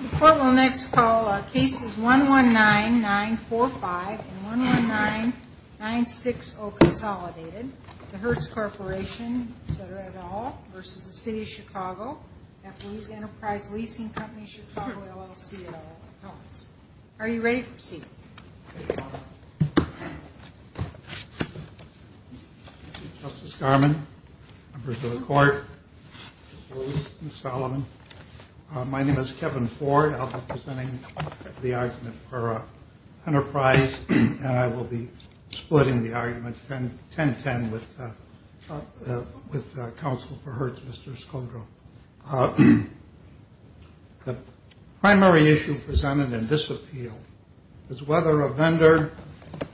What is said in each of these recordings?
The court will next call cases 119-945 and 119-960 consolidated, the Hertz Corporation, etc. et al. v. City of Chicago v. Enterprise Leasing Company Chicago LLC et al. Justice Garman, members of the court, Ms. Solomon, my name is Kevin Ford. I'll be presenting the argument for Enterprise, and I will be splitting the argument 10-10 with counsel for Hertz, Mr. Skodro. The primary issue presented in this appeal is whether a vendor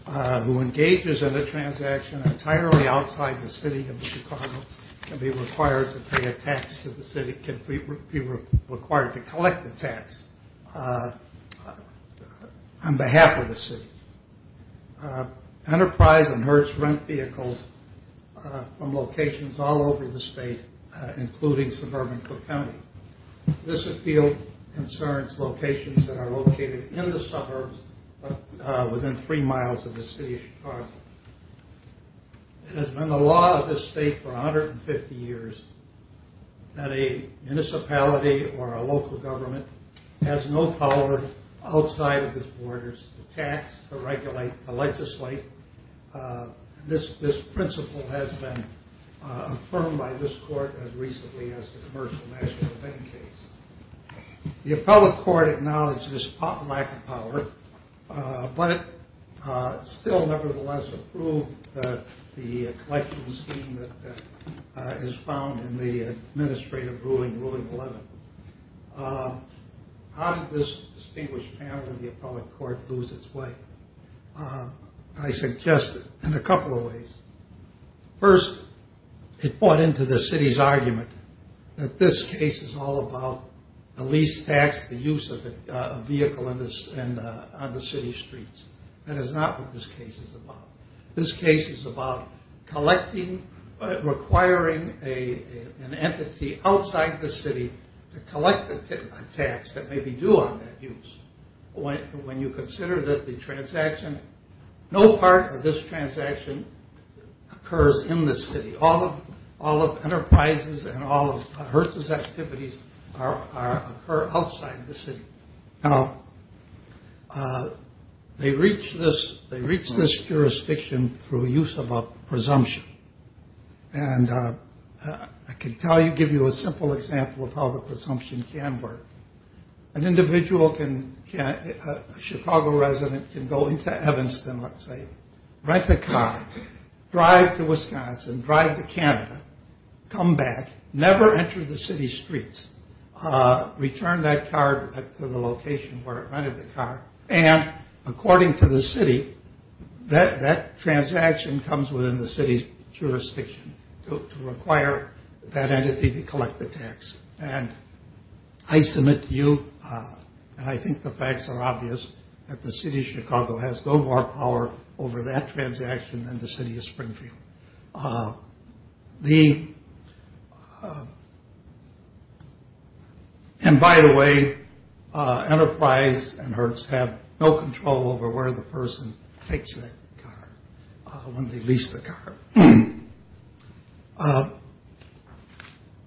who engages in a transaction entirely outside the city of Chicago can be required to pay a tax to the city, can be required to collect the tax on behalf of the city. Enterprise and Hertz rent vehicles from locations all over the state, including suburban Cook County. This appeal concerns locations that are located in the suburbs within three miles of the city of Chicago. It has been the law of this state for 150 years that a municipality or a local government has no power outside of its borders to tax, to regulate, to legislate. This principle has been affirmed by this court as recently as the Commercial National Bank case. The appellate court acknowledged this lack of power, but still nevertheless approved the collection scheme that is found in the administrative ruling, ruling 11. How did this distinguished panel in the appellate court lose its way? I suggest in a couple of ways. First, it bought into the city's argument that this case is all about the lease tax, the use of a vehicle on the city streets. That is not what this case is about. This case is about collecting, requiring an entity outside the city to collect a tax that may be due on that use. When you consider that the transaction, no part of this transaction occurs in the city. All of enterprises and all of HRSA's activities occur outside the city. Now, they reach this jurisdiction through use of a presumption. And I can tell you, give you a simple example of how the presumption can work. An individual can, a Chicago resident can go into Evanston, let's say, rent a car, drive to Wisconsin, drive to Canada, come back, never enter the city streets, return that car to the location where it rented the car, and according to the city, that transaction comes within the city's jurisdiction to require that entity to collect the tax. And I submit to you, and I think the facts are obvious, that the city of Chicago has no more power over that transaction than the city of Springfield. And by the way, enterprise and HRSA have no control over where the person takes that car when they lease the car.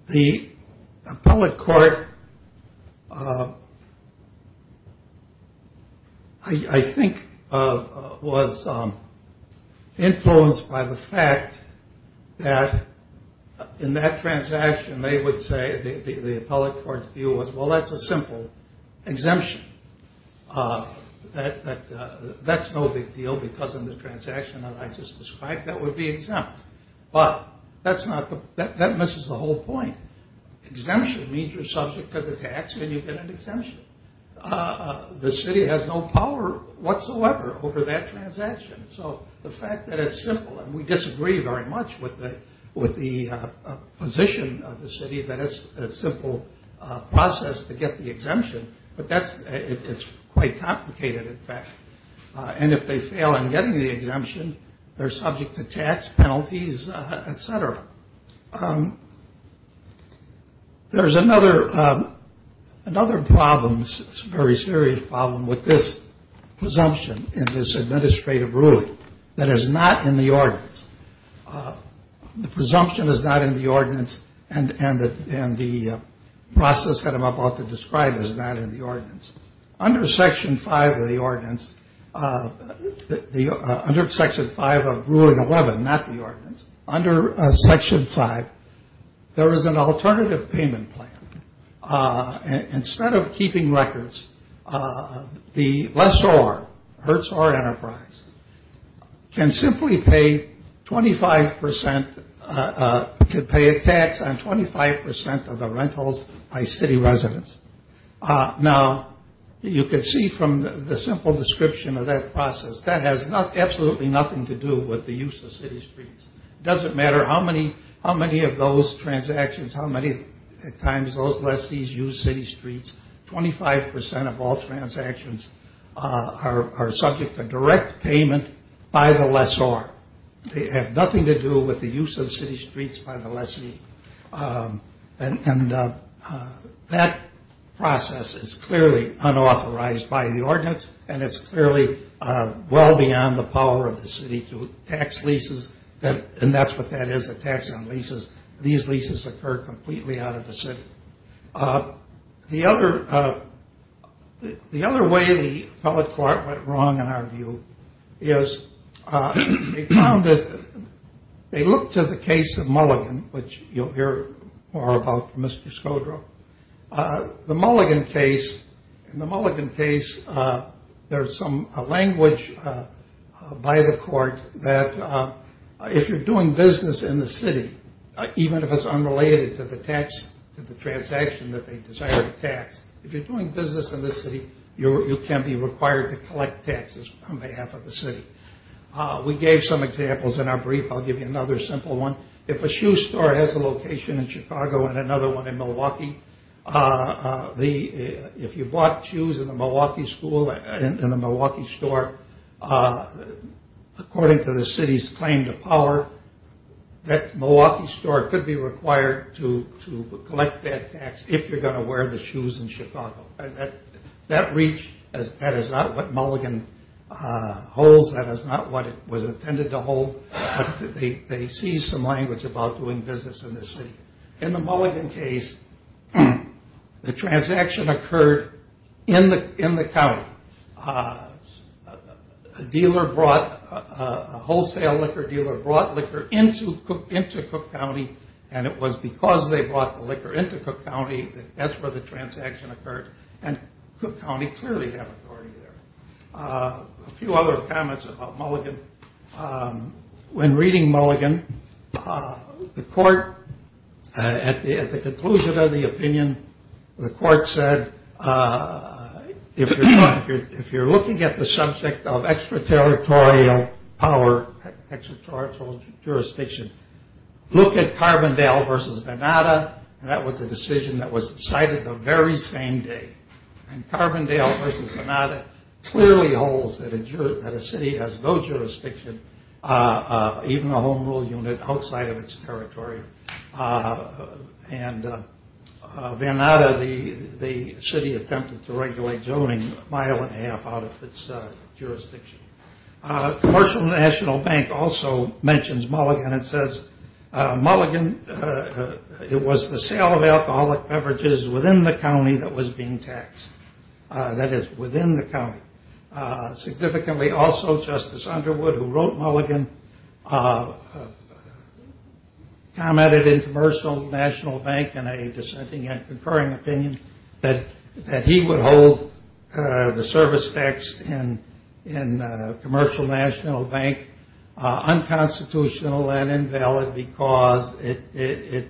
The appellate court, I think, was influenced by the fact that in that transaction, they would say, the appellate court's view was, well, that's a simple exemption. That's no big deal because in the transaction that I just described, that would be exempt. But that misses the whole point. Exemption means you're subject to the tax and you get an exemption. The city has no power whatsoever over that transaction. So the fact that it's simple, and we disagree very much with the position of the city that it's a simple process to get the exemption, but it's quite complicated, in fact. And if they fail in getting the exemption, they're subject to tax penalties, et cetera. There's another problem, a very serious problem, with this presumption in this administrative ruling that is not in the ordinance. The presumption is not in the ordinance and the process that I'm about to describe is not in the ordinance. Under Section 5 of the ordinance, under Section 5 of Ruling 11, not the ordinance, under Section 5, there is an alternative payment plan. Instead of keeping records, the lessor, Hertzor Enterprise, can pay a tax on 25 percent of the rentals by city residents. Now, you can see from the simple description of that process, that has absolutely nothing to do with the use of city streets. It doesn't matter how many of those transactions, how many times those lessees use city streets, 25 percent of all transactions are subject to direct payment by the lessor. They have nothing to do with the use of city streets by the lessee. And that process is clearly unauthorized by the ordinance and it's clearly well beyond the power of the city to tax leases. And that's what that is, a tax on leases. These leases occur completely out of the city. The other way the appellate court went wrong, in our view, is they found that they looked to the case of Mulligan, which you'll hear more about from Mr. Skodro. The Mulligan case, in the Mulligan case, there's some language by the court that if you're doing business in the city, even if it's unrelated to the tax, to the transaction that they desire to tax, if you're doing business in the city, you can be required to collect taxes on behalf of the city. We gave some examples in our brief. I'll give you another simple one. If a shoe store has a location in Chicago and another one in Milwaukee, if you bought shoes in the Milwaukee store, according to the city's claim to power, that Milwaukee store could be required to collect that tax if you're going to wear the shoes in Chicago. And that reach, that is not what Mulligan holds. That is not what it was intended to hold. They seized some language about doing business in the city. In the Mulligan case, the transaction occurred in the county. A dealer brought, a wholesale liquor dealer brought liquor into Cook County, and it was because they brought the liquor into Cook County that that's where the transaction occurred. And Cook County clearly had authority there. A few other comments about Mulligan. When reading Mulligan, the court, at the conclusion of the opinion, the court said if you're looking at the subject of extraterritorial power, extraterritorial jurisdiction, look at Carbondale versus Venata, and that was a decision that was decided the very same day. And Carbondale versus Venata clearly holds that a city has no jurisdiction, even a home rule unit, outside of its territory. And Venata, the city attempted to regulate zoning a mile and a half out of its jurisdiction. Commercial National Bank also mentions Mulligan and says, Mulligan, it was the sale of alcoholic beverages within the county that was being taxed. That is, within the county. Significantly also, Justice Underwood, who wrote Mulligan, commented in Commercial National Bank in a dissenting and concurring opinion that he would hold the service tax in Commercial National Bank unconstitutional and invalid because it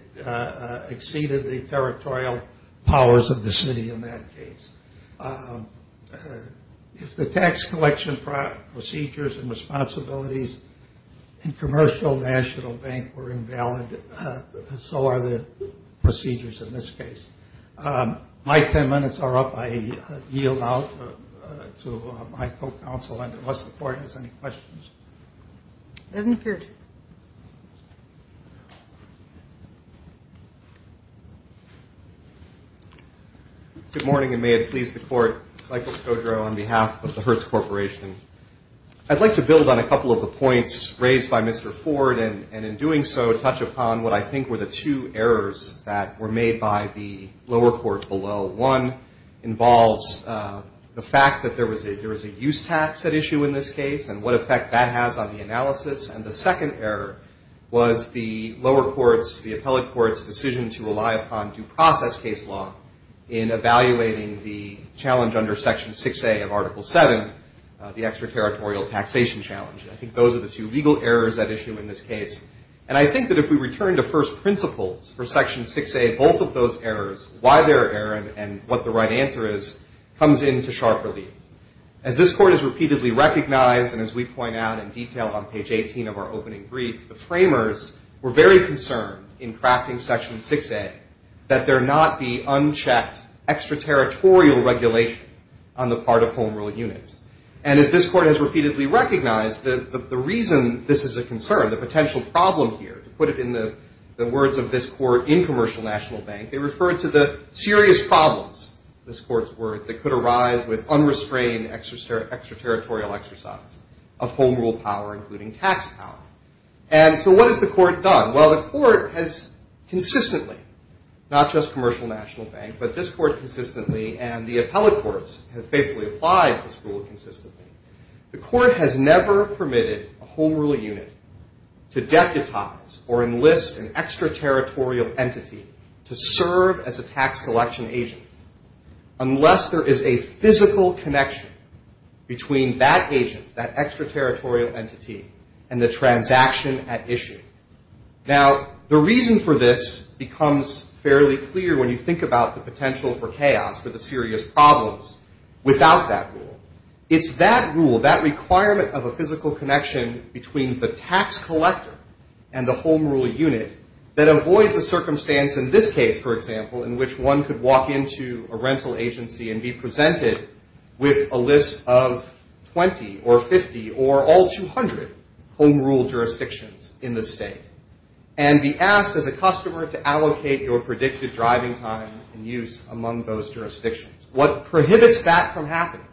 exceeded the territorial powers of the city in that case. If the tax collection procedures and responsibilities in Commercial National Bank were invalid, so are the procedures in this case. My ten minutes are up. I yield out to my co-counsel, unless the court has any questions. It doesn't appear to. Good morning, and may it please the Court. Michael Skodro on behalf of the Hertz Corporation. I'd like to build on a couple of the points raised by Mr. Ford, and in doing so touch upon what I think were the two errors that were made by the lower court below. One involves the fact that there was a use tax at issue in this case and what effect that has on the analysis. And the second error was the lower court's, the appellate court's, decision to rely upon due process case law in evaluating the challenge under Section 6A of Article 7, the extraterritorial taxation challenge. I think those are the two legal errors at issue in this case. And I think that if we return to first principles for Section 6A, both of those errors, why they're there and what the right answer is, comes into sharp relief. As this Court has repeatedly recognized, and as we point out in detail on page 18 of our opening brief, the framers were very concerned in crafting Section 6A that there not be unchecked extraterritorial regulation on the part of Home Rule units. And as this Court has repeatedly recognized, the reason this is a concern, the potential problem here, to put it in the words of this Court in Commercial National Bank, they referred to the serious problems, this Court's words, that could arise with unrestrained extraterritorial exercise of Home Rule power, including tax power. And so what has the Court done? Well, the Court has consistently, not just Commercial National Bank, but this Court consistently and the appellate courts have faithfully applied this rule consistently. The Court has never permitted a Home Rule unit to deputize or enlist an extraterritorial entity to serve as a tax collection agent unless there is a physical connection between that agent, that extraterritorial entity, and the transaction at issue. Now, the reason for this becomes fairly clear when you think about the potential for chaos, for the serious problems, without that rule. It's that rule, that requirement of a physical connection between the tax collector and the Home Rule unit that avoids a circumstance in this case, for example, in which one could walk into a rental agency and be presented with a list of 20 or 50 or all 200 Home Rule jurisdictions in the state and be asked as a customer to allocate your predicted driving time and use among those jurisdictions. What prohibits that from happening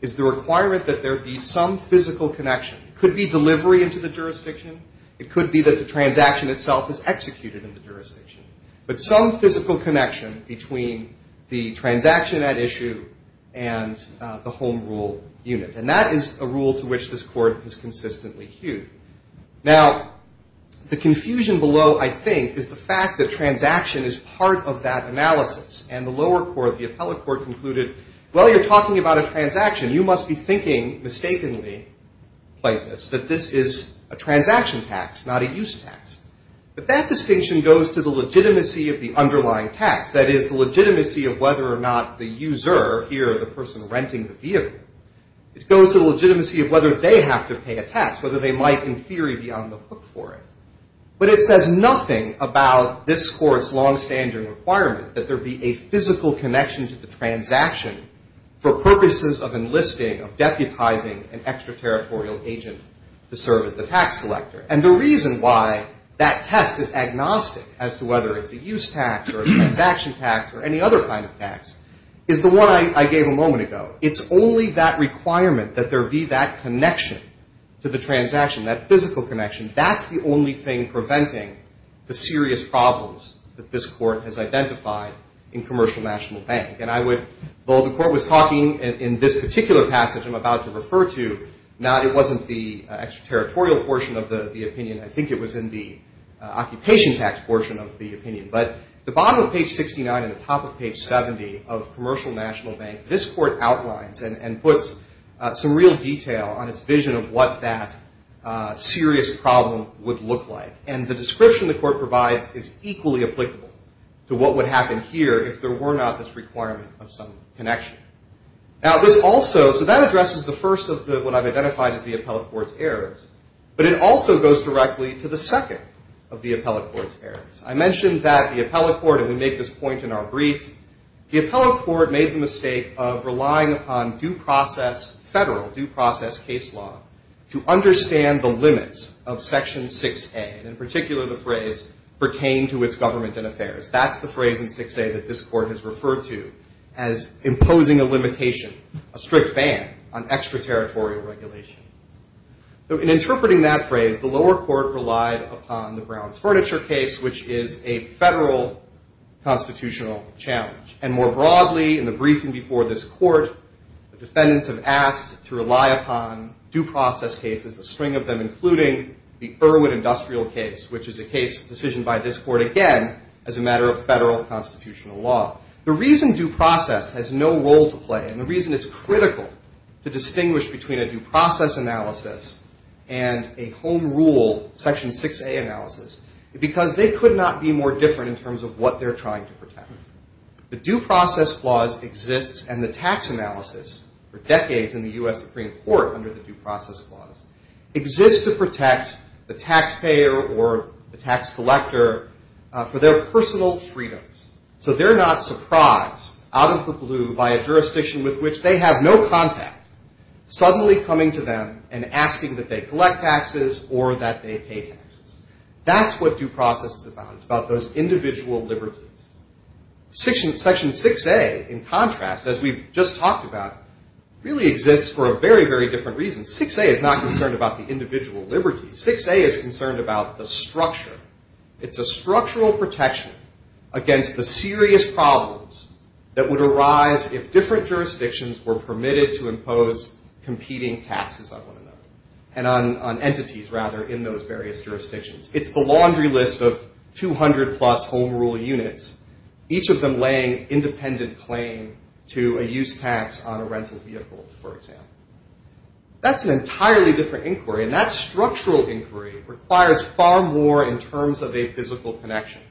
is the requirement that there be some physical connection. It could be delivery into the jurisdiction. It could be that the transaction itself is executed in the jurisdiction. But some physical connection between the transaction at issue and the Home Rule unit. And that is a rule to which this Court has consistently hewed. Now, the confusion below, I think, is the fact that transaction is part of that analysis and the lower court, the appellate court, concluded, well, you're talking about a transaction. You must be thinking mistakenly like this, that this is a transaction tax, not a use tax. But that distinction goes to the legitimacy of the underlying tax, that is the legitimacy of whether or not the user here, the person renting the vehicle, it goes to the legitimacy of whether they have to pay a tax, whether they might in theory be on the hook for it. But it says nothing about this Court's longstanding requirement that there be a physical connection to the transaction for purposes of enlisting, of deputizing an extraterritorial agent to serve as the tax collector. And the reason why that test is agnostic as to whether it's a use tax or a transaction tax or any other kind of tax is the one I gave a moment ago. It's only that requirement that there be that connection to the transaction, that physical connection. That's the only thing preventing the serious problems that this Court has identified in Commercial National Bank. And I would, although the Court was talking in this particular passage I'm about to refer to, it wasn't the extraterritorial portion of the opinion. I think it was in the occupation tax portion of the opinion. But the bottom of page 69 and the top of page 70 of Commercial National Bank, this Court outlines and puts some real detail on its vision of what that serious problem would look like. And the description the Court provides is equally applicable to what would happen here if there were not this requirement of some connection. Now, this also, so that addresses the first of what I've identified as the Appellate Court's errors. But it also goes directly to the second of the Appellate Court's errors. I mentioned that the Appellate Court, and we make this point in our brief, the Appellate Court made the mistake of relying upon due process federal, due process case law, to understand the limits of Section 6A, and in particular the phrase, pertain to its government and affairs. That's the phrase in 6A that this Court has referred to as imposing a limitation, a strict ban on extraterritorial regulation. So in interpreting that phrase, the lower court relied upon the Browns Furniture Case, which is a federal constitutional challenge. And more broadly, in the briefing before this Court, the defendants have asked to rely upon due process cases, a string of them, including the Irwin Industrial Case, which is a case decision by this Court, again, as a matter of federal constitutional law. The reason due process has no role to play, and the reason it's critical to distinguish between a due process analysis and a home rule, Section 6A analysis, is because they could not be more different in terms of what they're trying to protect. The due process clause exists, and the tax analysis, for decades in the U.S. Supreme Court, under the due process clause, exists to protect the taxpayer or the tax collector for their personal freedoms. So they're not surprised, out of the blue, by a jurisdiction with which they have no contact, suddenly coming to them and asking that they collect taxes or that they pay taxes. That's what due process is about. It's about those individual liberties. Section 6A, in contrast, as we've just talked about, really exists for a very, very different reason. 6A is not concerned about the individual liberties. 6A is concerned about the structure. It's a structural protection against the serious problems that would arise if different jurisdictions were permitted to impose competing taxes, I want to note, and on entities, rather, in those various jurisdictions. It's the laundry list of 200-plus home rule units, each of them laying independent claim to a use tax on a rental vehicle, for example. That's an entirely different inquiry, and that structural inquiry requires far more in terms of a physical connection.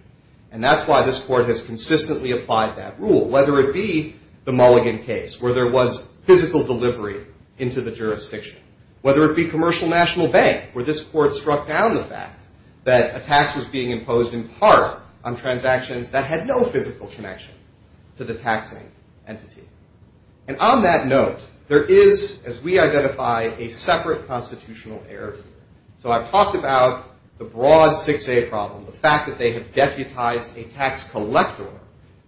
And that's why this Court has consistently applied that rule, whether it be the Mulligan case, where there was physical delivery into the jurisdiction, whether it be Commercial National Bank, where this Court struck down the fact that a tax was being imposed in part on transactions that had no physical connection to the taxing entity. And on that note, there is, as we identify, a separate constitutional error here. So I've talked about the broad 6A problem, the fact that they have deputized a tax collector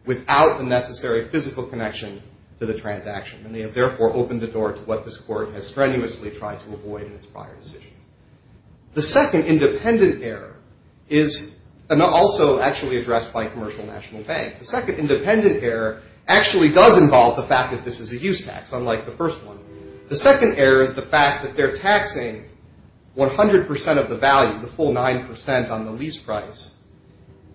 without the necessary physical connection to the transaction, and they have therefore opened the door to what this Court has strenuously tried to avoid in its prior decisions. The second independent error is also actually addressed by Commercial National Bank. The second independent error actually does involve the fact that this is a use tax, unlike the first one. The second error is the fact that they're taxing 100% of the value, the full 9% on the lease price,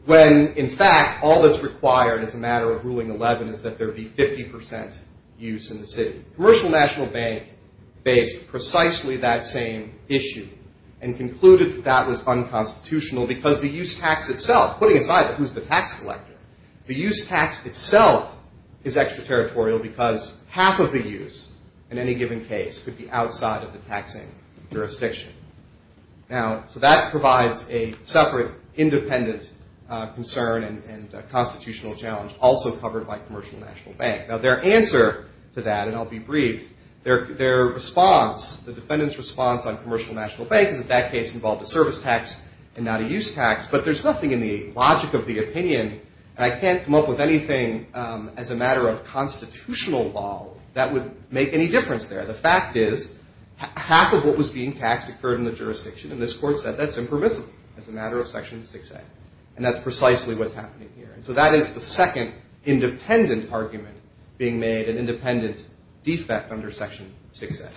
when, in fact, all that's required as a matter of Ruling 11 is that there be 50% use in the city. Commercial National Bank faced precisely that same issue and concluded that that was unconstitutional because the use tax itself, putting aside who's the tax collector, the use tax itself is extraterritorial because half of the use in any given case could be outside of the taxing jurisdiction. Now, so that provides a separate independent concern and constitutional challenge, also covered by Commercial National Bank. Now, their answer to that, and I'll be brief, their response, the defendant's response on Commercial National Bank is that that case involved a service tax and not a use tax. But there's nothing in the logic of the opinion, and I can't come up with anything as a matter of constitutional law that would make any difference there. The fact is half of what was being taxed occurred in the jurisdiction, and this Court said that's impermissible as a matter of Section 6A, and that's precisely what's happening here. And so that is the second independent argument being made, an independent defect under Section 6A.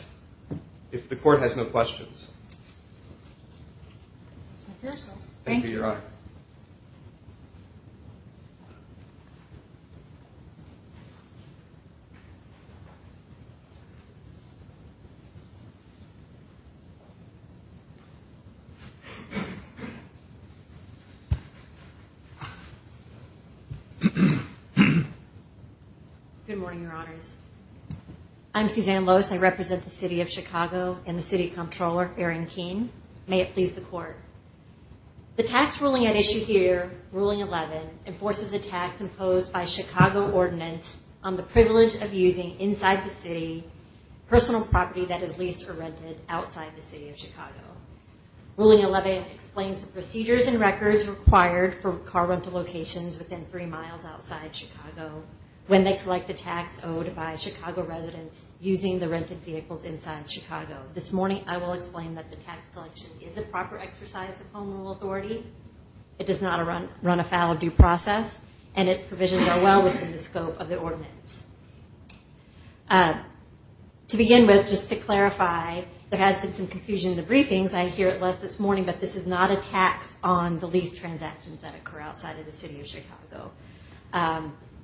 If the Court has no questions. Thank you, Your Honor. Good morning, Your Honors. I'm Suzanne Loess. I represent the City of Chicago and the City Comptroller, Aaron Keene. May it please the Court. The tax ruling at issue here, Ruling 11, enforces a tax imposed by Chicago Ordinance on the privilege of using inside the city personal property that is leased or rented outside the City of Chicago. Ruling 11 explains the procedures and records required for car rental locations within three miles outside Chicago when they collect a tax owed by Chicago residents using the rented vehicles inside Chicago. This morning, I will explain that the tax collection is a proper exercise of home rule authority. It does not run afoul of due process, and its provisions are well within the scope of the ordinance. To begin with, just to clarify, there has been some confusion in the briefings. I hear it less this morning, but this is not a tax on the lease transactions that occur outside of the City of Chicago.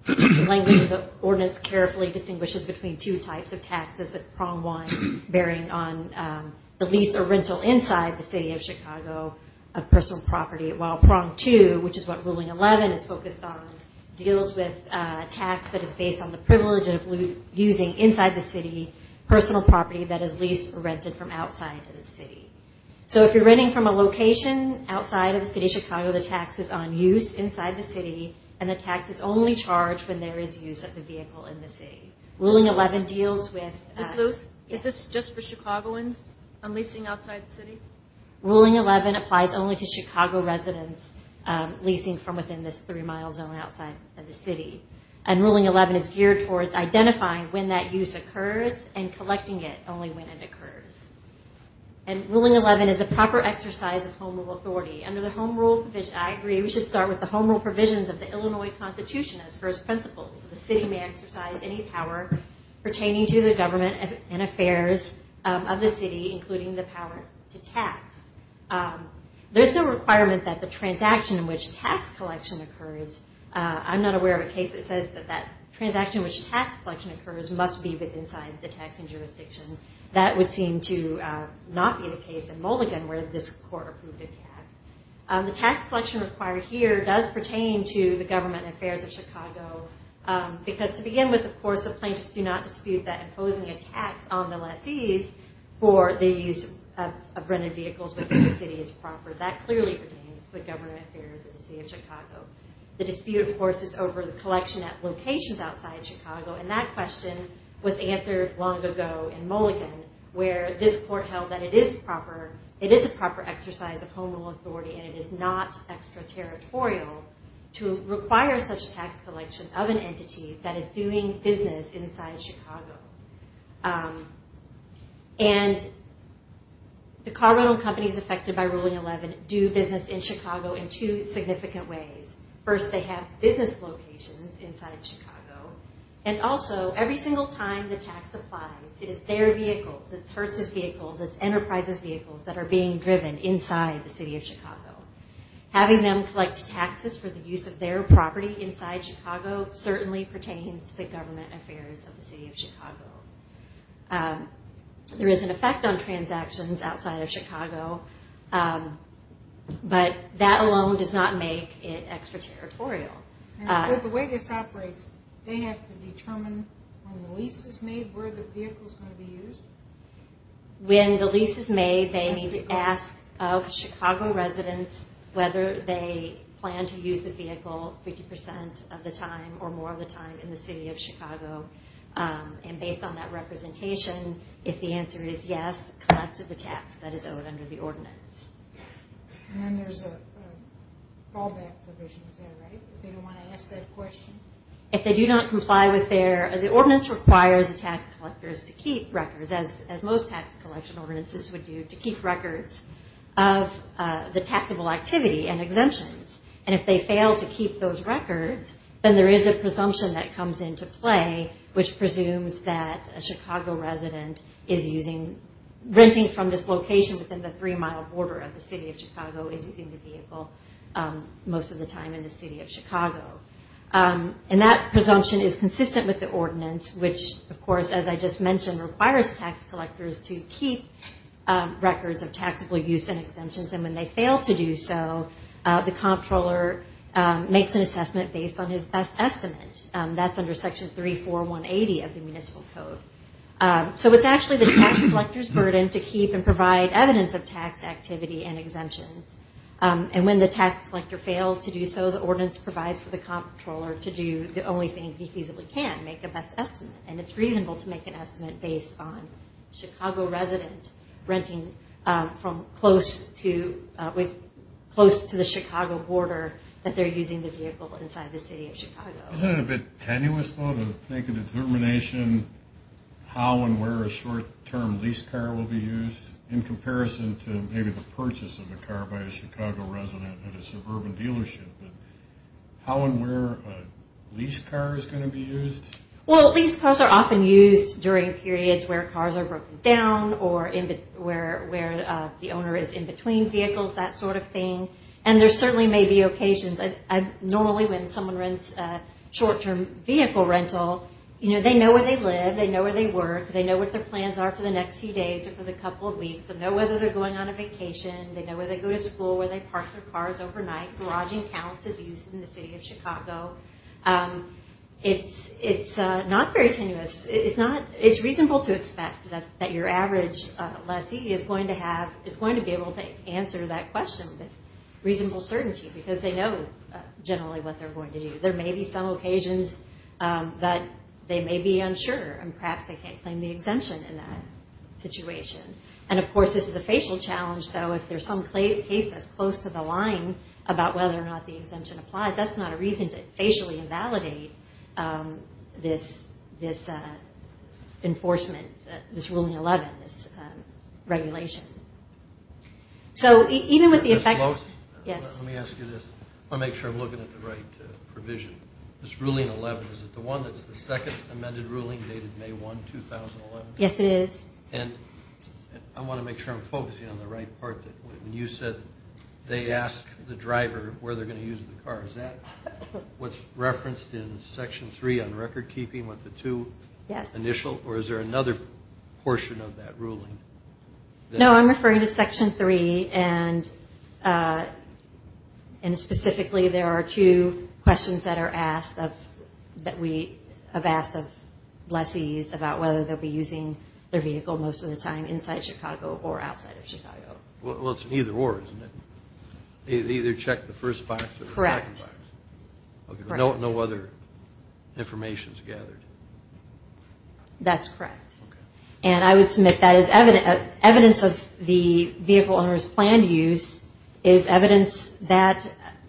The language of the ordinance carefully distinguishes between two types of taxes, with Prong 1 bearing on the lease or rental inside the City of Chicago of personal property, while Prong 2, which is what Ruling 11 is focused on, deals with a tax that is based on the privilege of using inside the city personal property that is leased or rented from outside of the city. So if you're renting from a location outside of the City of Chicago, the tax is on use inside the city, and the tax is only charged when there is use of the vehicle in the city. Ruling 11 deals with... Ms. Luce, is this just for Chicagoans on leasing outside the city? Ruling 11 applies only to Chicago residents leasing from within this three-mile zone outside of the city. And Ruling 11 is geared towards identifying when that use occurs and collecting it only when it occurs. And Ruling 11 is a proper exercise of home rule authority. Under the home rule provision... I agree, we should start with the home rule provisions of the Illinois Constitution as first principles. The city may exercise any power pertaining to the government and affairs of the city, including the power to tax. There's no requirement that the transaction in which tax collection occurs... I'm not aware of a case that says that that transaction in which tax collection occurs must be with inside the taxing jurisdiction. That would seem to not be the case in Mulligan, where this court approved a tax. The tax collection required here does pertain to the government and affairs of Chicago, because to begin with, of course, the plaintiffs do not dispute that imposing a tax on the lessees for the use of rented vehicles within the city is proper. That clearly pertains to the government and affairs of the city of Chicago. The dispute, of course, is over the collection at locations outside Chicago, and that question was answered long ago in Mulligan, where this court held that it is a proper exercise of home rule authority and it is not extraterritorial to require such tax collection of an entity that is doing business inside Chicago. And the car rental companies affected by Ruling 11 do business in Chicago in two significant ways. First, they have business locations inside Chicago, and also every single time the tax applies, it is their vehicles, it's Hertz's vehicles, it's Enterprise's vehicles that are being driven inside the city of Chicago. Having them collect taxes for the use of their property inside Chicago certainly pertains to the government and affairs of the city of Chicago. There is an effect on transactions outside of Chicago, but that alone does not make it extraterritorial. The way this operates, they have to determine when the lease is made where the vehicle is going to be used? When the lease is made, they need to ask of Chicago residents whether they plan to use the vehicle 50% of the time or more of the time in the city of Chicago. And based on that representation, if the answer is yes, they must collect the tax that is owed under the ordinance. And then there's a fallback provision, is that right? If they don't want to ask that question? If they do not comply with their... The ordinance requires the tax collectors to keep records, as most tax collection ordinances would do, to keep records of the taxable activity and exemptions. And if they fail to keep those records, then there is a presumption that comes into play which presumes that a Chicago resident is using... Renting from this location within the three-mile border of the city of Chicago is using the vehicle most of the time in the city of Chicago. And that presumption is consistent with the ordinance, which, of course, as I just mentioned, requires tax collectors to keep records of taxable use and exemptions. And when they fail to do so, the comptroller makes an assessment based on his best estimate. That's under Section 34180 of the Municipal Code. So it's actually the tax collector's burden to keep and provide evidence of tax activity and exemptions. And when the tax collector fails to do so, the ordinance provides for the comptroller to do the only thing he feasibly can, make a best estimate. And it's reasonable to make an estimate based on a Chicago resident renting from close to the Chicago border that they're using the vehicle inside the city of Chicago. Isn't it a bit tenuous, though, to make a determination how and where a short-term leased car will be used in comparison to maybe the purchase of a car by a Chicago resident at a suburban dealership? How and where a leased car is going to be used? Well, leased cars are often used during periods where cars are broken down or where the owner is in between vehicles, that sort of thing. And there certainly may be occasions... Normally when someone rents a short-term vehicle rental, they know where they live, they know where they work, they know what their plans are for the next few days or for the couple of weeks, they know whether they're going on a vacation, they know where they go to school, where they park their cars overnight. Garaging counts is used in the city of Chicago. It's not very tenuous. It's reasonable to expect that your average lessee is going to be able to answer that question with reasonable certainty, because they know generally what they're going to do. There may be some occasions that they may be unsure and perhaps they can't claim the exemption in that situation. And of course this is a facial challenge, though. If there's some case that's close to the line about whether or not the exemption applies, that's not a reason to facially invalidate this enforcement, this Ruling 11, this regulation. So even with the effect... Ms. Lowe? Yes. Let me ask you this. I want to make sure I'm looking at the right provision. This Ruling 11, is it the one that's the second amended ruling dated May 1, 2011? Yes, it is. And I want to make sure I'm focusing on the right part. When you said they ask the driver where they're going to use the car, is that what's referenced in Section 3 on recordkeeping with the two initials, or is there another portion of that ruling? No, I'm referring to Section 3, and specifically there are two questions that we have asked of lessees about whether they'll be using their vehicle most of the time inside Chicago or outside of Chicago. Well, it's an either-or, isn't it? They either check the first box or the second box. Correct. No other information is gathered. That's correct. And I would submit that evidence of the vehicle owner's planned use is evidence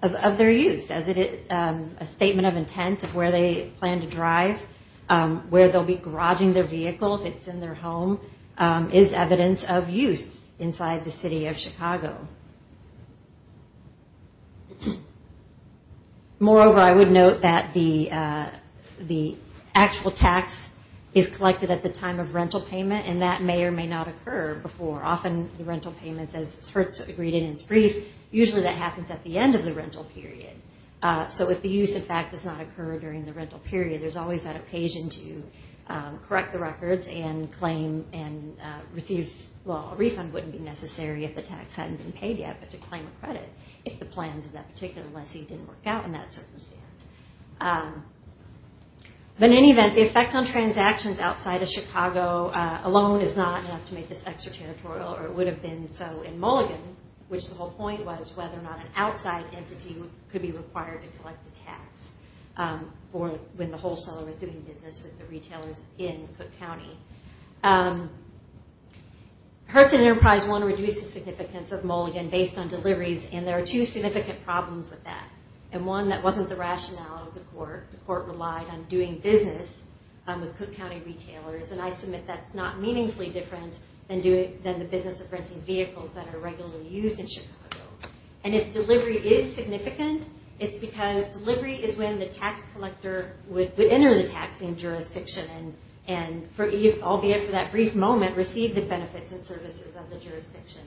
of their use, as it is a statement of intent of where they plan to drive, where they'll be garaging their vehicle if it's in their home, is evidence of use inside the city of Chicago. Moreover, I would note that the actual tax is collected at the time of rental payment, and that may or may not occur before. Often the rental payment, as Hertz agreed in its brief, usually that happens at the end of the rental period. So if the use, in fact, does not occur during the rental period, there's always that occasion to correct the records and claim and receive, well, a refund wouldn't be necessary if the tax hadn't been paid yet, but to claim a credit if the plans of that particular lessee didn't work out in that circumstance. But in any event, the effect on transactions outside of Chicago alone is not enough to make this extraterritorial, or it would have been so in Mulligan, which the whole point was whether or not an outside entity could be required to collect a tax when the wholesaler was doing business with the retailers in Cook County. Hertz and Enterprise, one, reduced the significance of Mulligan based on deliveries, and there are two significant problems with that, and one that wasn't the rationale of the court. The court relied on doing business with Cook County retailers, and I submit that's not meaningfully different than the business of renting vehicles that are regularly used in Chicago. And if delivery is significant, it's because delivery is when the tax collector would enter the taxing jurisdiction and, albeit for that brief moment, receive the benefits and services of the jurisdiction.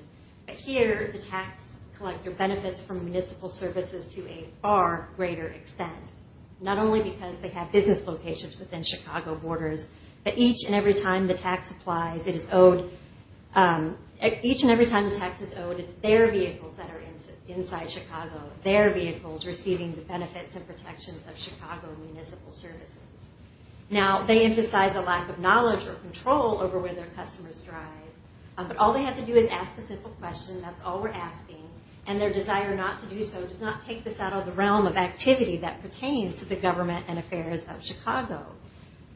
But here, the tax collector benefits from municipal services to a far greater extent, not only because they have business locations within Chicago borders, but each and every time the tax is owed, it's their vehicles that are inside Chicago, their vehicles receiving the benefits and protections of Chicago municipal services. Now, they emphasize a lack of knowledge or control over where their customers drive, but all they have to do is ask the simple question, that's all we're asking, and their desire not to do so does not take this out of the realm of activity that pertains to the government and affairs of Chicago.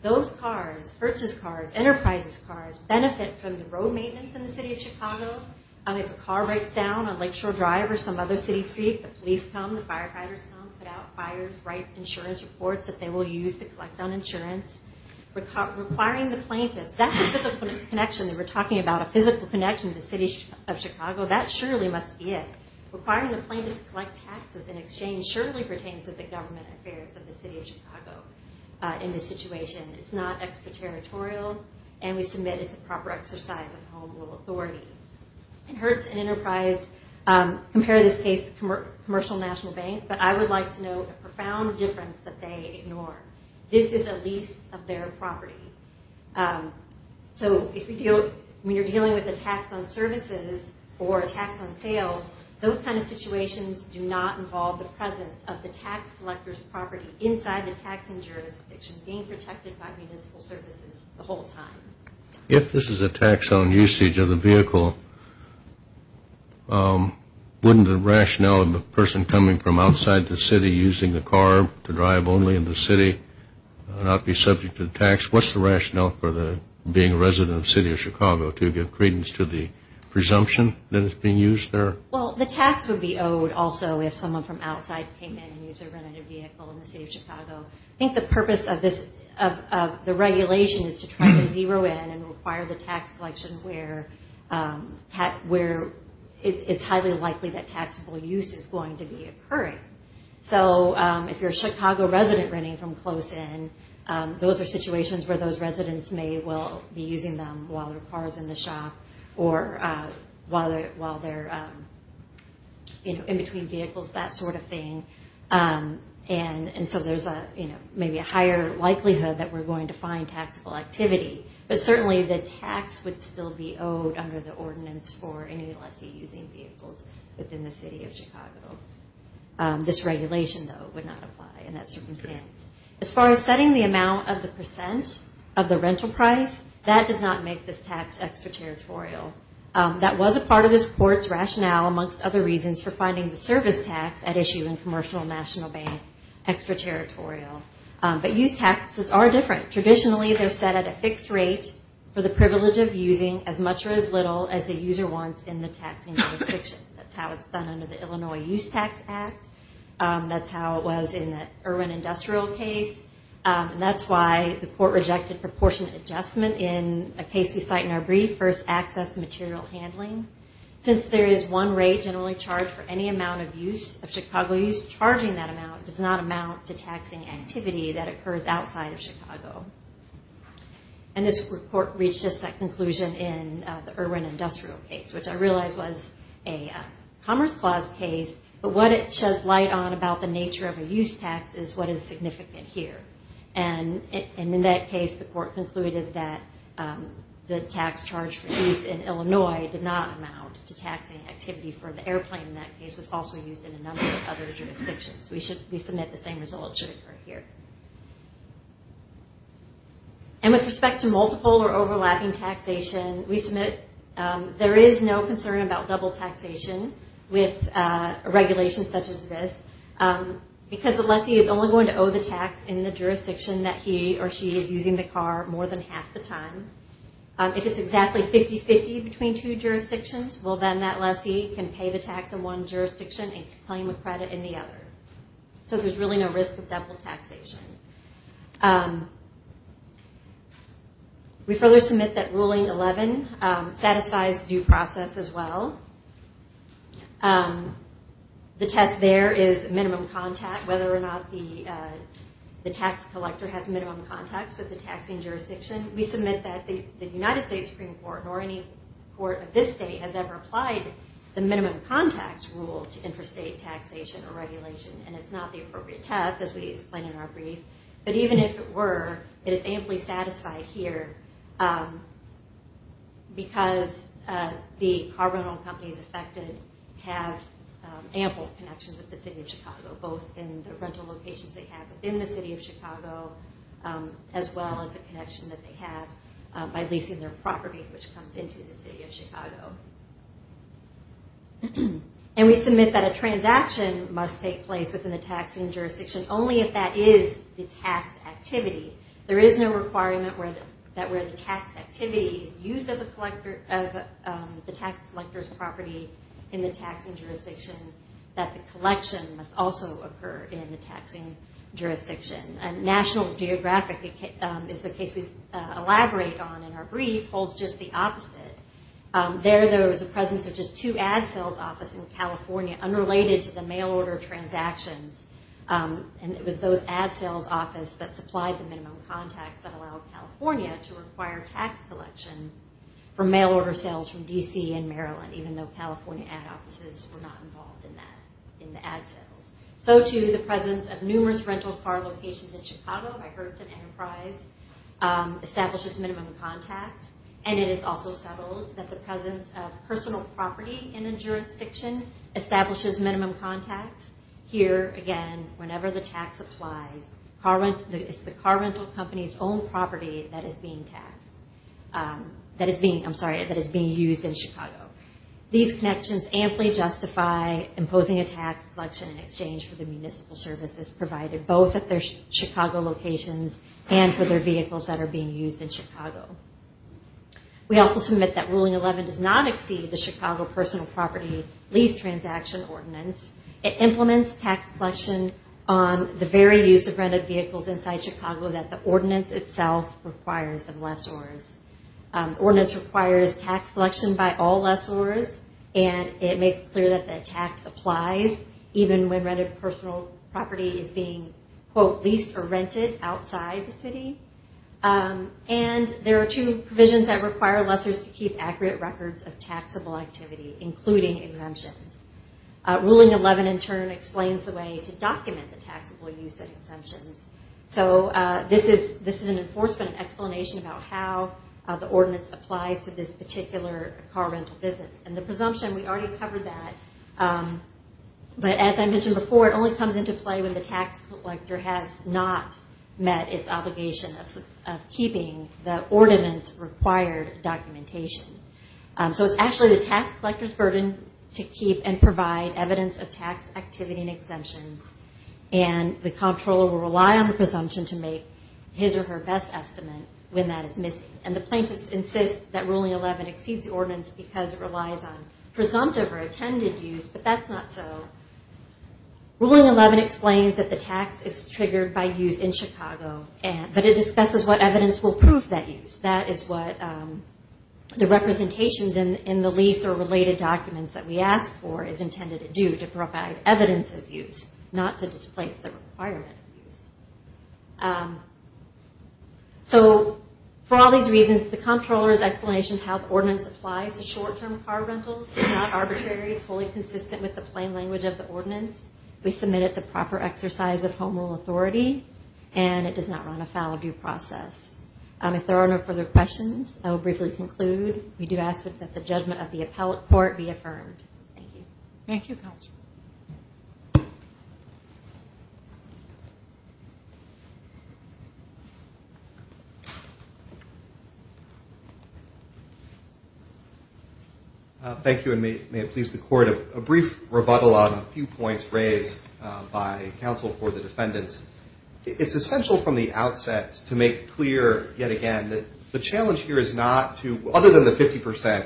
Those cars, Hertz's cars, Enterprise's cars, benefit from the road maintenance in the city of Chicago. If a car breaks down on Lakeshore Drive or some other city street, the police come, the firefighters come, put out fires, write insurance reports that they will use to collect on insurance. Requiring the plaintiffs, that's a physical connection that we're talking about, a physical connection to the city of Chicago, that surely must be it. Requiring the plaintiffs to collect taxes in exchange surely pertains to the government affairs of the city of Chicago in this situation. It's not extraterritorial, and we submit it's a proper exercise of home rule authority. And Hertz and Enterprise compare this case to Commercial National Bank, but I would like to note a profound difference that they ignore. This is a lease of their property. So when you're dealing with a tax on services or a tax on sales, those kind of situations do not involve the presence of the tax collector's property inside the taxing jurisdiction being protected by municipal services the whole time. If this is a tax on usage of the vehicle, wouldn't the rationale of the person coming from outside the city using the car to drive only in the city not be subject to the tax? What's the rationale for being a resident of the city of Chicago to give credence to the presumption that it's being used there? Well, the tax would be owed also if someone from outside came in and used their rented vehicle in the city of Chicago. I think the purpose of the regulation is to try to zero in and require the tax collection where it's highly likely that taxable use is going to be occurring. So if you're a Chicago resident renting from close in, those are situations where those residents may well be using them while their car's in the shop or while they're in between vehicles, that sort of thing. And so there's maybe a higher likelihood that we're going to find taxable activity. But certainly the tax would still be owed under the ordinance for any lessee using vehicles within the city of Chicago. This regulation, though, would not apply in that circumstance. As far as setting the amount of the percent of the rental price, that does not make this tax extraterritorial. That was a part of this court's rationale, amongst other reasons, for finding the service tax at issue in Commercial National Bank extraterritorial. But use taxes are different. Traditionally, they're set at a fixed rate for the privilege of using as much or as little as a user wants in the taxing jurisdiction. That's how it's done under the Illinois Use Tax Act. That's how it was in the Irwin Industrial case. And that's why the court rejected proportionate adjustment in a case we cite in our brief, First Access Material Handling. Since there is one rate generally charged for any amount of use, of Chicago use, charging that amount does not amount to taxing activity that occurs outside of Chicago. And this court reached just that conclusion in the Irwin Industrial case, which I realize was a Commerce Clause case, but what it sheds light on about the nature of a use tax is what is significant here. And in that case, the court concluded that the tax charged for use in Illinois did not amount to taxing activity for the airplane in that case. It was also used in a number of other jurisdictions. We submit the same results here. And with respect to multiple or overlapping taxation, we submit there is no concern about double taxation with a regulation such as this because the lessee is only going to owe the tax in the jurisdiction that he or she is using the car more than half the time. If it's exactly 50-50 between two jurisdictions, well then that lessee can pay the tax in one jurisdiction and claim a credit in the other. So there's really no risk of double taxation. We further submit that Ruling 11 satisfies due process as well. The test there is minimum contact, whether or not the tax collector has minimum contacts with the taxing jurisdiction. We submit that the United States Supreme Court or any court of this state has ever applied the minimum contacts rule to interstate taxation or regulation. And it's not the appropriate test as we explain in our brief. But even if it were, it is amply satisfied here because the car rental companies affected have ample connections with the City of Chicago both in the rental locations they have within the City of Chicago as well as the connection that they have by leasing their property which comes into the City of Chicago. And we submit that a transaction must take place within the taxing jurisdiction only if that is the tax activity. There is no requirement that where the tax activity is used of the tax collector's property in the taxing jurisdiction that the collection must also occur in the taxing jurisdiction. And National Geographic is the case we elaborate on in our brief, holds just the opposite. There, there was a presence of just two ad sales offices in California unrelated to the mail order transactions. And it was those ad sales offices that supplied the minimum contacts that allowed California to require tax collection for mail order sales from D.C. and Maryland, even though California ad offices were not involved in that, in the ad sales. So too, the presence of numerous rental car locations in Chicago by Hertz and Enterprise establishes minimum contacts, and it is also settled that the presence of personal property in a jurisdiction establishes minimum contacts. Here, again, whenever the tax applies, it's the car rental company's own property that is being taxed, that is being, I'm sorry, that is being used in Chicago. These connections amply justify imposing a tax collection in exchange for the municipal services provided both at their Chicago locations and for their vehicles that are being used in Chicago. We also submit that Ruling 11 does not exceed the Chicago Personal Property Lease Transaction Ordinance. It implements tax collection on the very use of rented vehicles inside Chicago that the ordinance itself requires of lessors. And it makes clear that the tax applies even when rented personal property is being quote, leased or rented outside the city. And there are two provisions that require lessors to keep accurate records of taxable activity, including exemptions. Ruling 11, in turn, explains the way to document the taxable use of exemptions. So this is an enforcement explanation about how the ordinance applies to this particular car rental business. And the presumption, we already covered that. But as I mentioned before, it only comes into play when the tax collector has not met its obligation of keeping the ordinance required documentation. So it's actually the tax collector's burden to keep and provide evidence of tax activity and exemptions. And the comptroller will rely on the presumption to make his or her best estimate when that is missing. And the plaintiffs insist that Ruling 11 exceeds the ordinance because it relies on presumptive or attended use, but that's not so. Ruling 11 explains that the tax is triggered by use in Chicago, but it discusses what evidence will prove that use. That is what the representations in the lease or related documents that we ask for is intended to do, to provide evidence of use, not to displace the requirement of use. So for all these reasons, the comptroller's explanation of how the ordinance applies to short-term car rentals is not arbitrary. It's wholly consistent with the plain language of the ordinance. We submit it to proper exercise of Home Rule authority, and it does not run afoul of due process. If there are no further questions, I will briefly conclude. We do ask that the judgment of the appellate court be affirmed. Thank you. Thank you. Thank you, and may it please the court, a brief rebuttal on a few points raised by counsel for the defendants. It's essential from the outset to make clear yet again that the challenge here is not to, other than the 50%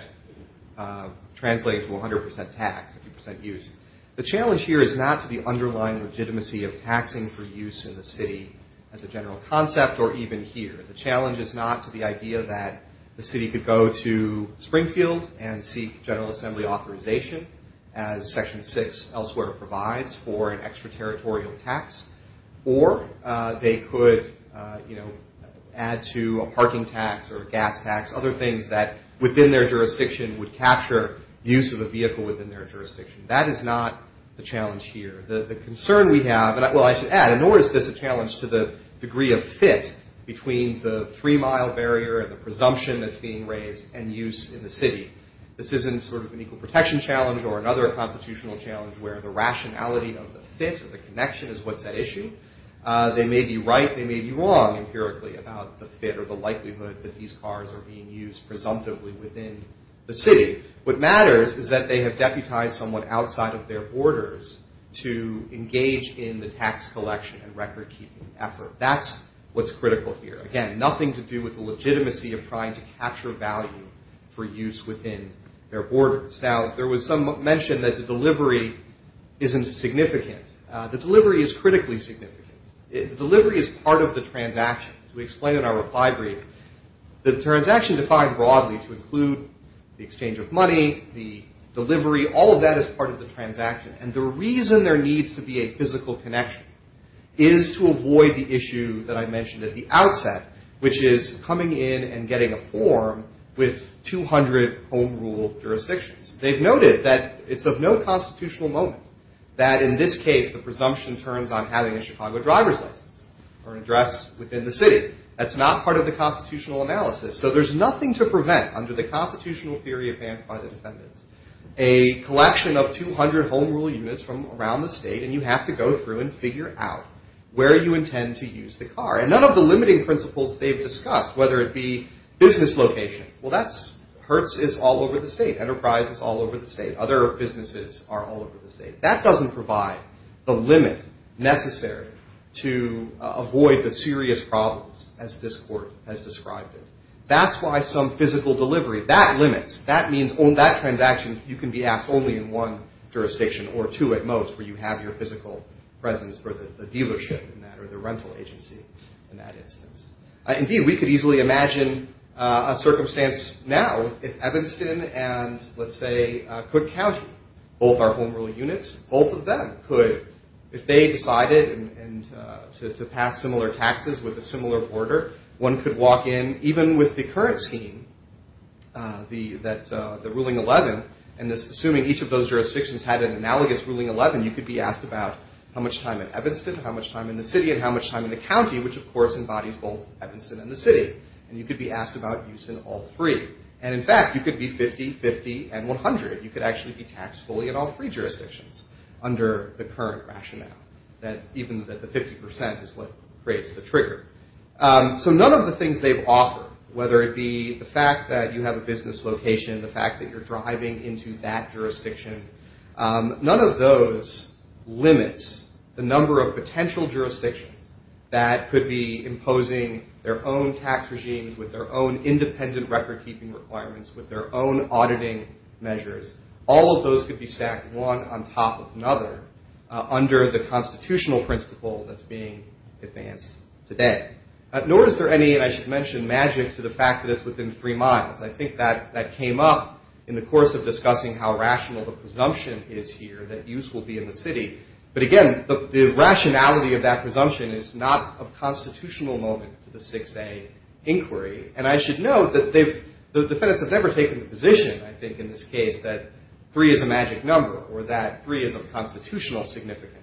translating to 100% tax, 50% use, the challenge here is not to the underlying legitimacy of taxing for use in the city as a general concept or even here. The challenge is not to the idea that the city could go to Springfield and seek General Assembly authorization as Section 6 elsewhere provides for an extraterritorial tax, or they could, you know, add to a parking tax or a gas tax, other things that within their jurisdiction would capture use of a vehicle within their jurisdiction. That is not the challenge here. The concern we have, well, I should add, nor is this a challenge to the degree of fit between the three-mile barrier and the presumption that's being raised and use in the city. This isn't sort of an equal protection challenge or another constitutional challenge where the rationality of the fit or the connection is what's at issue. They may be right, they may be wrong empirically about the fit or the likelihood that these cars are being used presumptively within the city. What matters is that they have deputized someone outside of their borders to engage in the tax collection and record-keeping effort. That's what's critical here. Again, nothing to do with the legitimacy of trying to capture value for use within their borders. Now, there was some mention that the delivery isn't significant. The delivery is critically significant. The delivery is part of the transaction. As we explained in our reply brief, the transaction defined broadly to include the exchange of money, the delivery, all of that is part of the transaction. And the reason there needs to be a physical connection is to avoid the issue that I mentioned at the outset, which is coming in and getting a form with 200 home-ruled jurisdictions. They've noted that it's of no constitutional moment that, in this case, the presumption turns on having a Chicago driver's license or an address within the city. That's not part of the constitutional analysis. So there's nothing to prevent, under the constitutional theory advanced by the defendants, a collection of 200 home-ruled units from around the state, and you have to go through and figure out where you intend to use the car. And none of the limiting principles they've discussed, whether it be business location, well, Hertz is all over the state. Enterprise is all over the state. Other businesses are all over the state. That doesn't provide the limit necessary to avoid the serious problems as this Court has described it. That's why some physical delivery, that limits. That means on that transaction you can be asked only in one jurisdiction or two at most where you have your physical presence for the dealership in that or the rental agency in that instance. Indeed, we could easily imagine a circumstance now where if Evanston and, let's say, Cook County, both are home-ruled units, both of them could, if they decided to pass similar taxes with a similar order, one could walk in, even with the current scheme, the Ruling 11, and assuming each of those jurisdictions had an analogous Ruling 11, you could be asked about how much time in Evanston, how much time in the city, and how much time in the county, which, of course, embodies both Evanston and the city. And you could be asked about use in all three. And, in fact, you could be 50, 50, and 100. You could actually be taxed fully in all three jurisdictions under the current rationale, even that the 50 percent is what creates the trigger. So none of the things they've offered, whether it be the fact that you have a business location, the fact that you're driving into that jurisdiction, none of those limits the number of potential jurisdictions that could be imposing their own tax regimes with their own independent record-keeping requirements, with their own auditing measures, all of those could be stacked one on top of another under the constitutional principle that's being advanced today. Nor is there any, and I should mention, magic to the fact that it's within three miles. I think that came up in the course of discussing how rational the presumption is here that use will be in the city. But, again, the rationality of that presumption is not of constitutional moment to the 6A inquiry. And I should note that the defendants have never taken the position, I think, in this case, that three is a magic number or that three is of constitutional significance.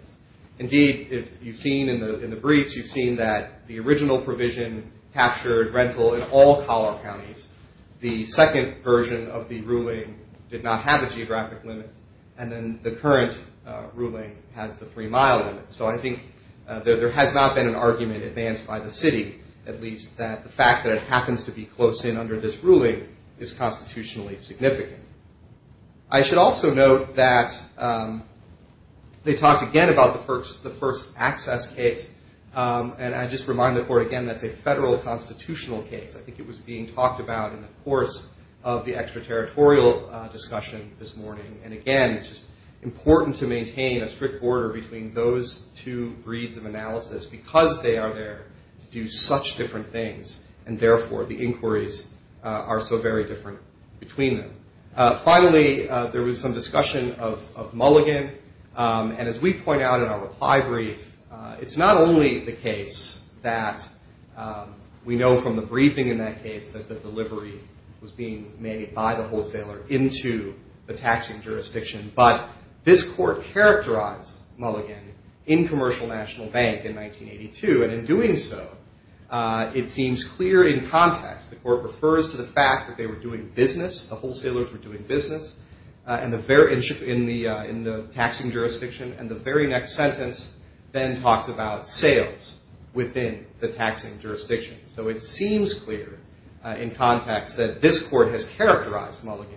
Indeed, if you've seen in the briefs, you've seen that the original provision captured rental in all Colorado counties. The second version of the ruling did not have a geographic limit. And then the current ruling has the three-mile limit. So I think there has not been an argument advanced by the city, at least that the fact that it happens to be close in under this ruling is constitutionally significant. I should also note that they talked again about the first access case, and I just remind the Court again that's a federal constitutional case. I think it was being talked about in the course of the extraterritorial discussion this morning. And, again, it's just important to maintain a strict border between those two breeds of analysis because they are there to do such different things and, therefore, the inquiries are so very different between them. Finally, there was some discussion of Mulligan, and as we point out in our reply brief, it's not only the case that we know from the briefing in that case that the delivery was being made by the wholesaler into the taxing jurisdiction, but this Court characterized Mulligan in Commercial National Bank in 1982, and in doing so, it seems clear in context. The Court refers to the fact that they were doing business, the wholesalers were doing business, in the taxing jurisdiction, and the very next sentence then talks about sales within the taxing jurisdiction. So it seems clear in context that this Court has characterized Mulligan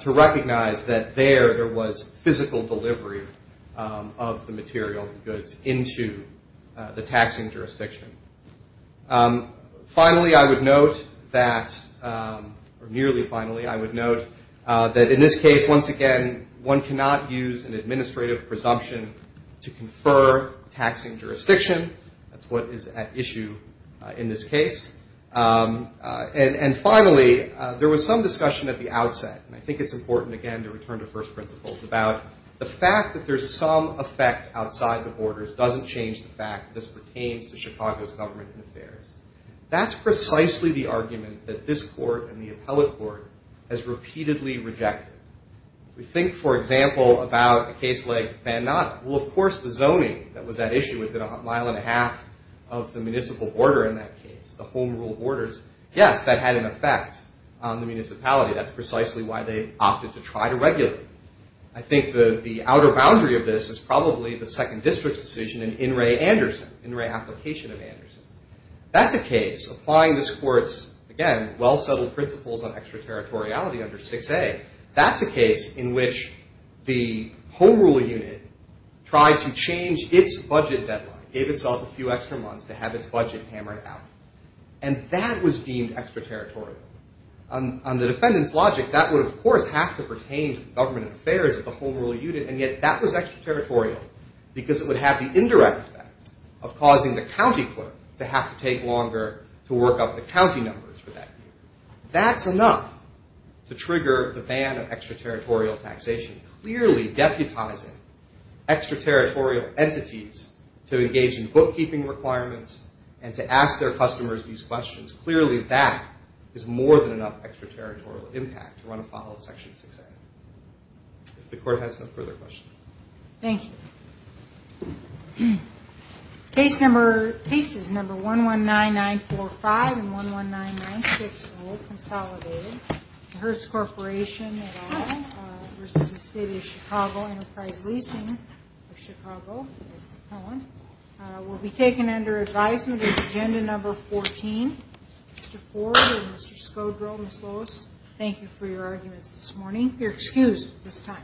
to recognize that there, there was physical delivery of the material goods into the taxing jurisdiction. Finally, I would note that, or nearly finally, I would note that in this case, once again, one cannot use an administrative presumption to confer taxing jurisdiction. That's what is at issue in this case. And finally, there was some discussion at the outset, and I think it's important, again, to return to first principles about the fact that there's some effect outside the borders doesn't change the fact that this pertains to Chicago's government and affairs. That's precisely the argument that this Court and the appellate court has repeatedly rejected. If we think, for example, about a case like Van Noten, well, of course, the zoning that was at issue within a mile and a half of the municipal border in that case, the home rule borders, yes, that had an effect on the municipality. That's precisely why they opted to try to regulate it. I think the outer boundary of this is probably the second district's decision in In re Application of Anderson. That's a case, applying this Court's, again, well-settled principles on extraterritoriality under 6A, that's a case in which the home rule unit tried to change its budget deadline, gave itself a few extra months to have its budget hammered out. And that was deemed extraterritorial. On the defendant's logic, that would, of course, have to pertain to government affairs at the home rule unit, and yet that was extraterritorial because it would have the indirect effect of causing the county clerk to have to take longer to work up the county numbers for that. That's enough to trigger the ban of extraterritorial taxation. Clearly deputizing extraterritorial entities to engage in bookkeeping requirements and to ask their customers these questions, clearly that is more than enough extraterritorial impact to run afoul of Section 6A. If the Court has no further questions. Thank you. Cases number 119945 and 119960, Consolidated, the Hertz Corporation, versus the City of Chicago, Enterprise Leasing of Chicago, will be taken under advisement of Agenda Number 14. Mr. Ford and Mr. Skodro, Ms. Lois, thank you for your arguments this morning. Thank you.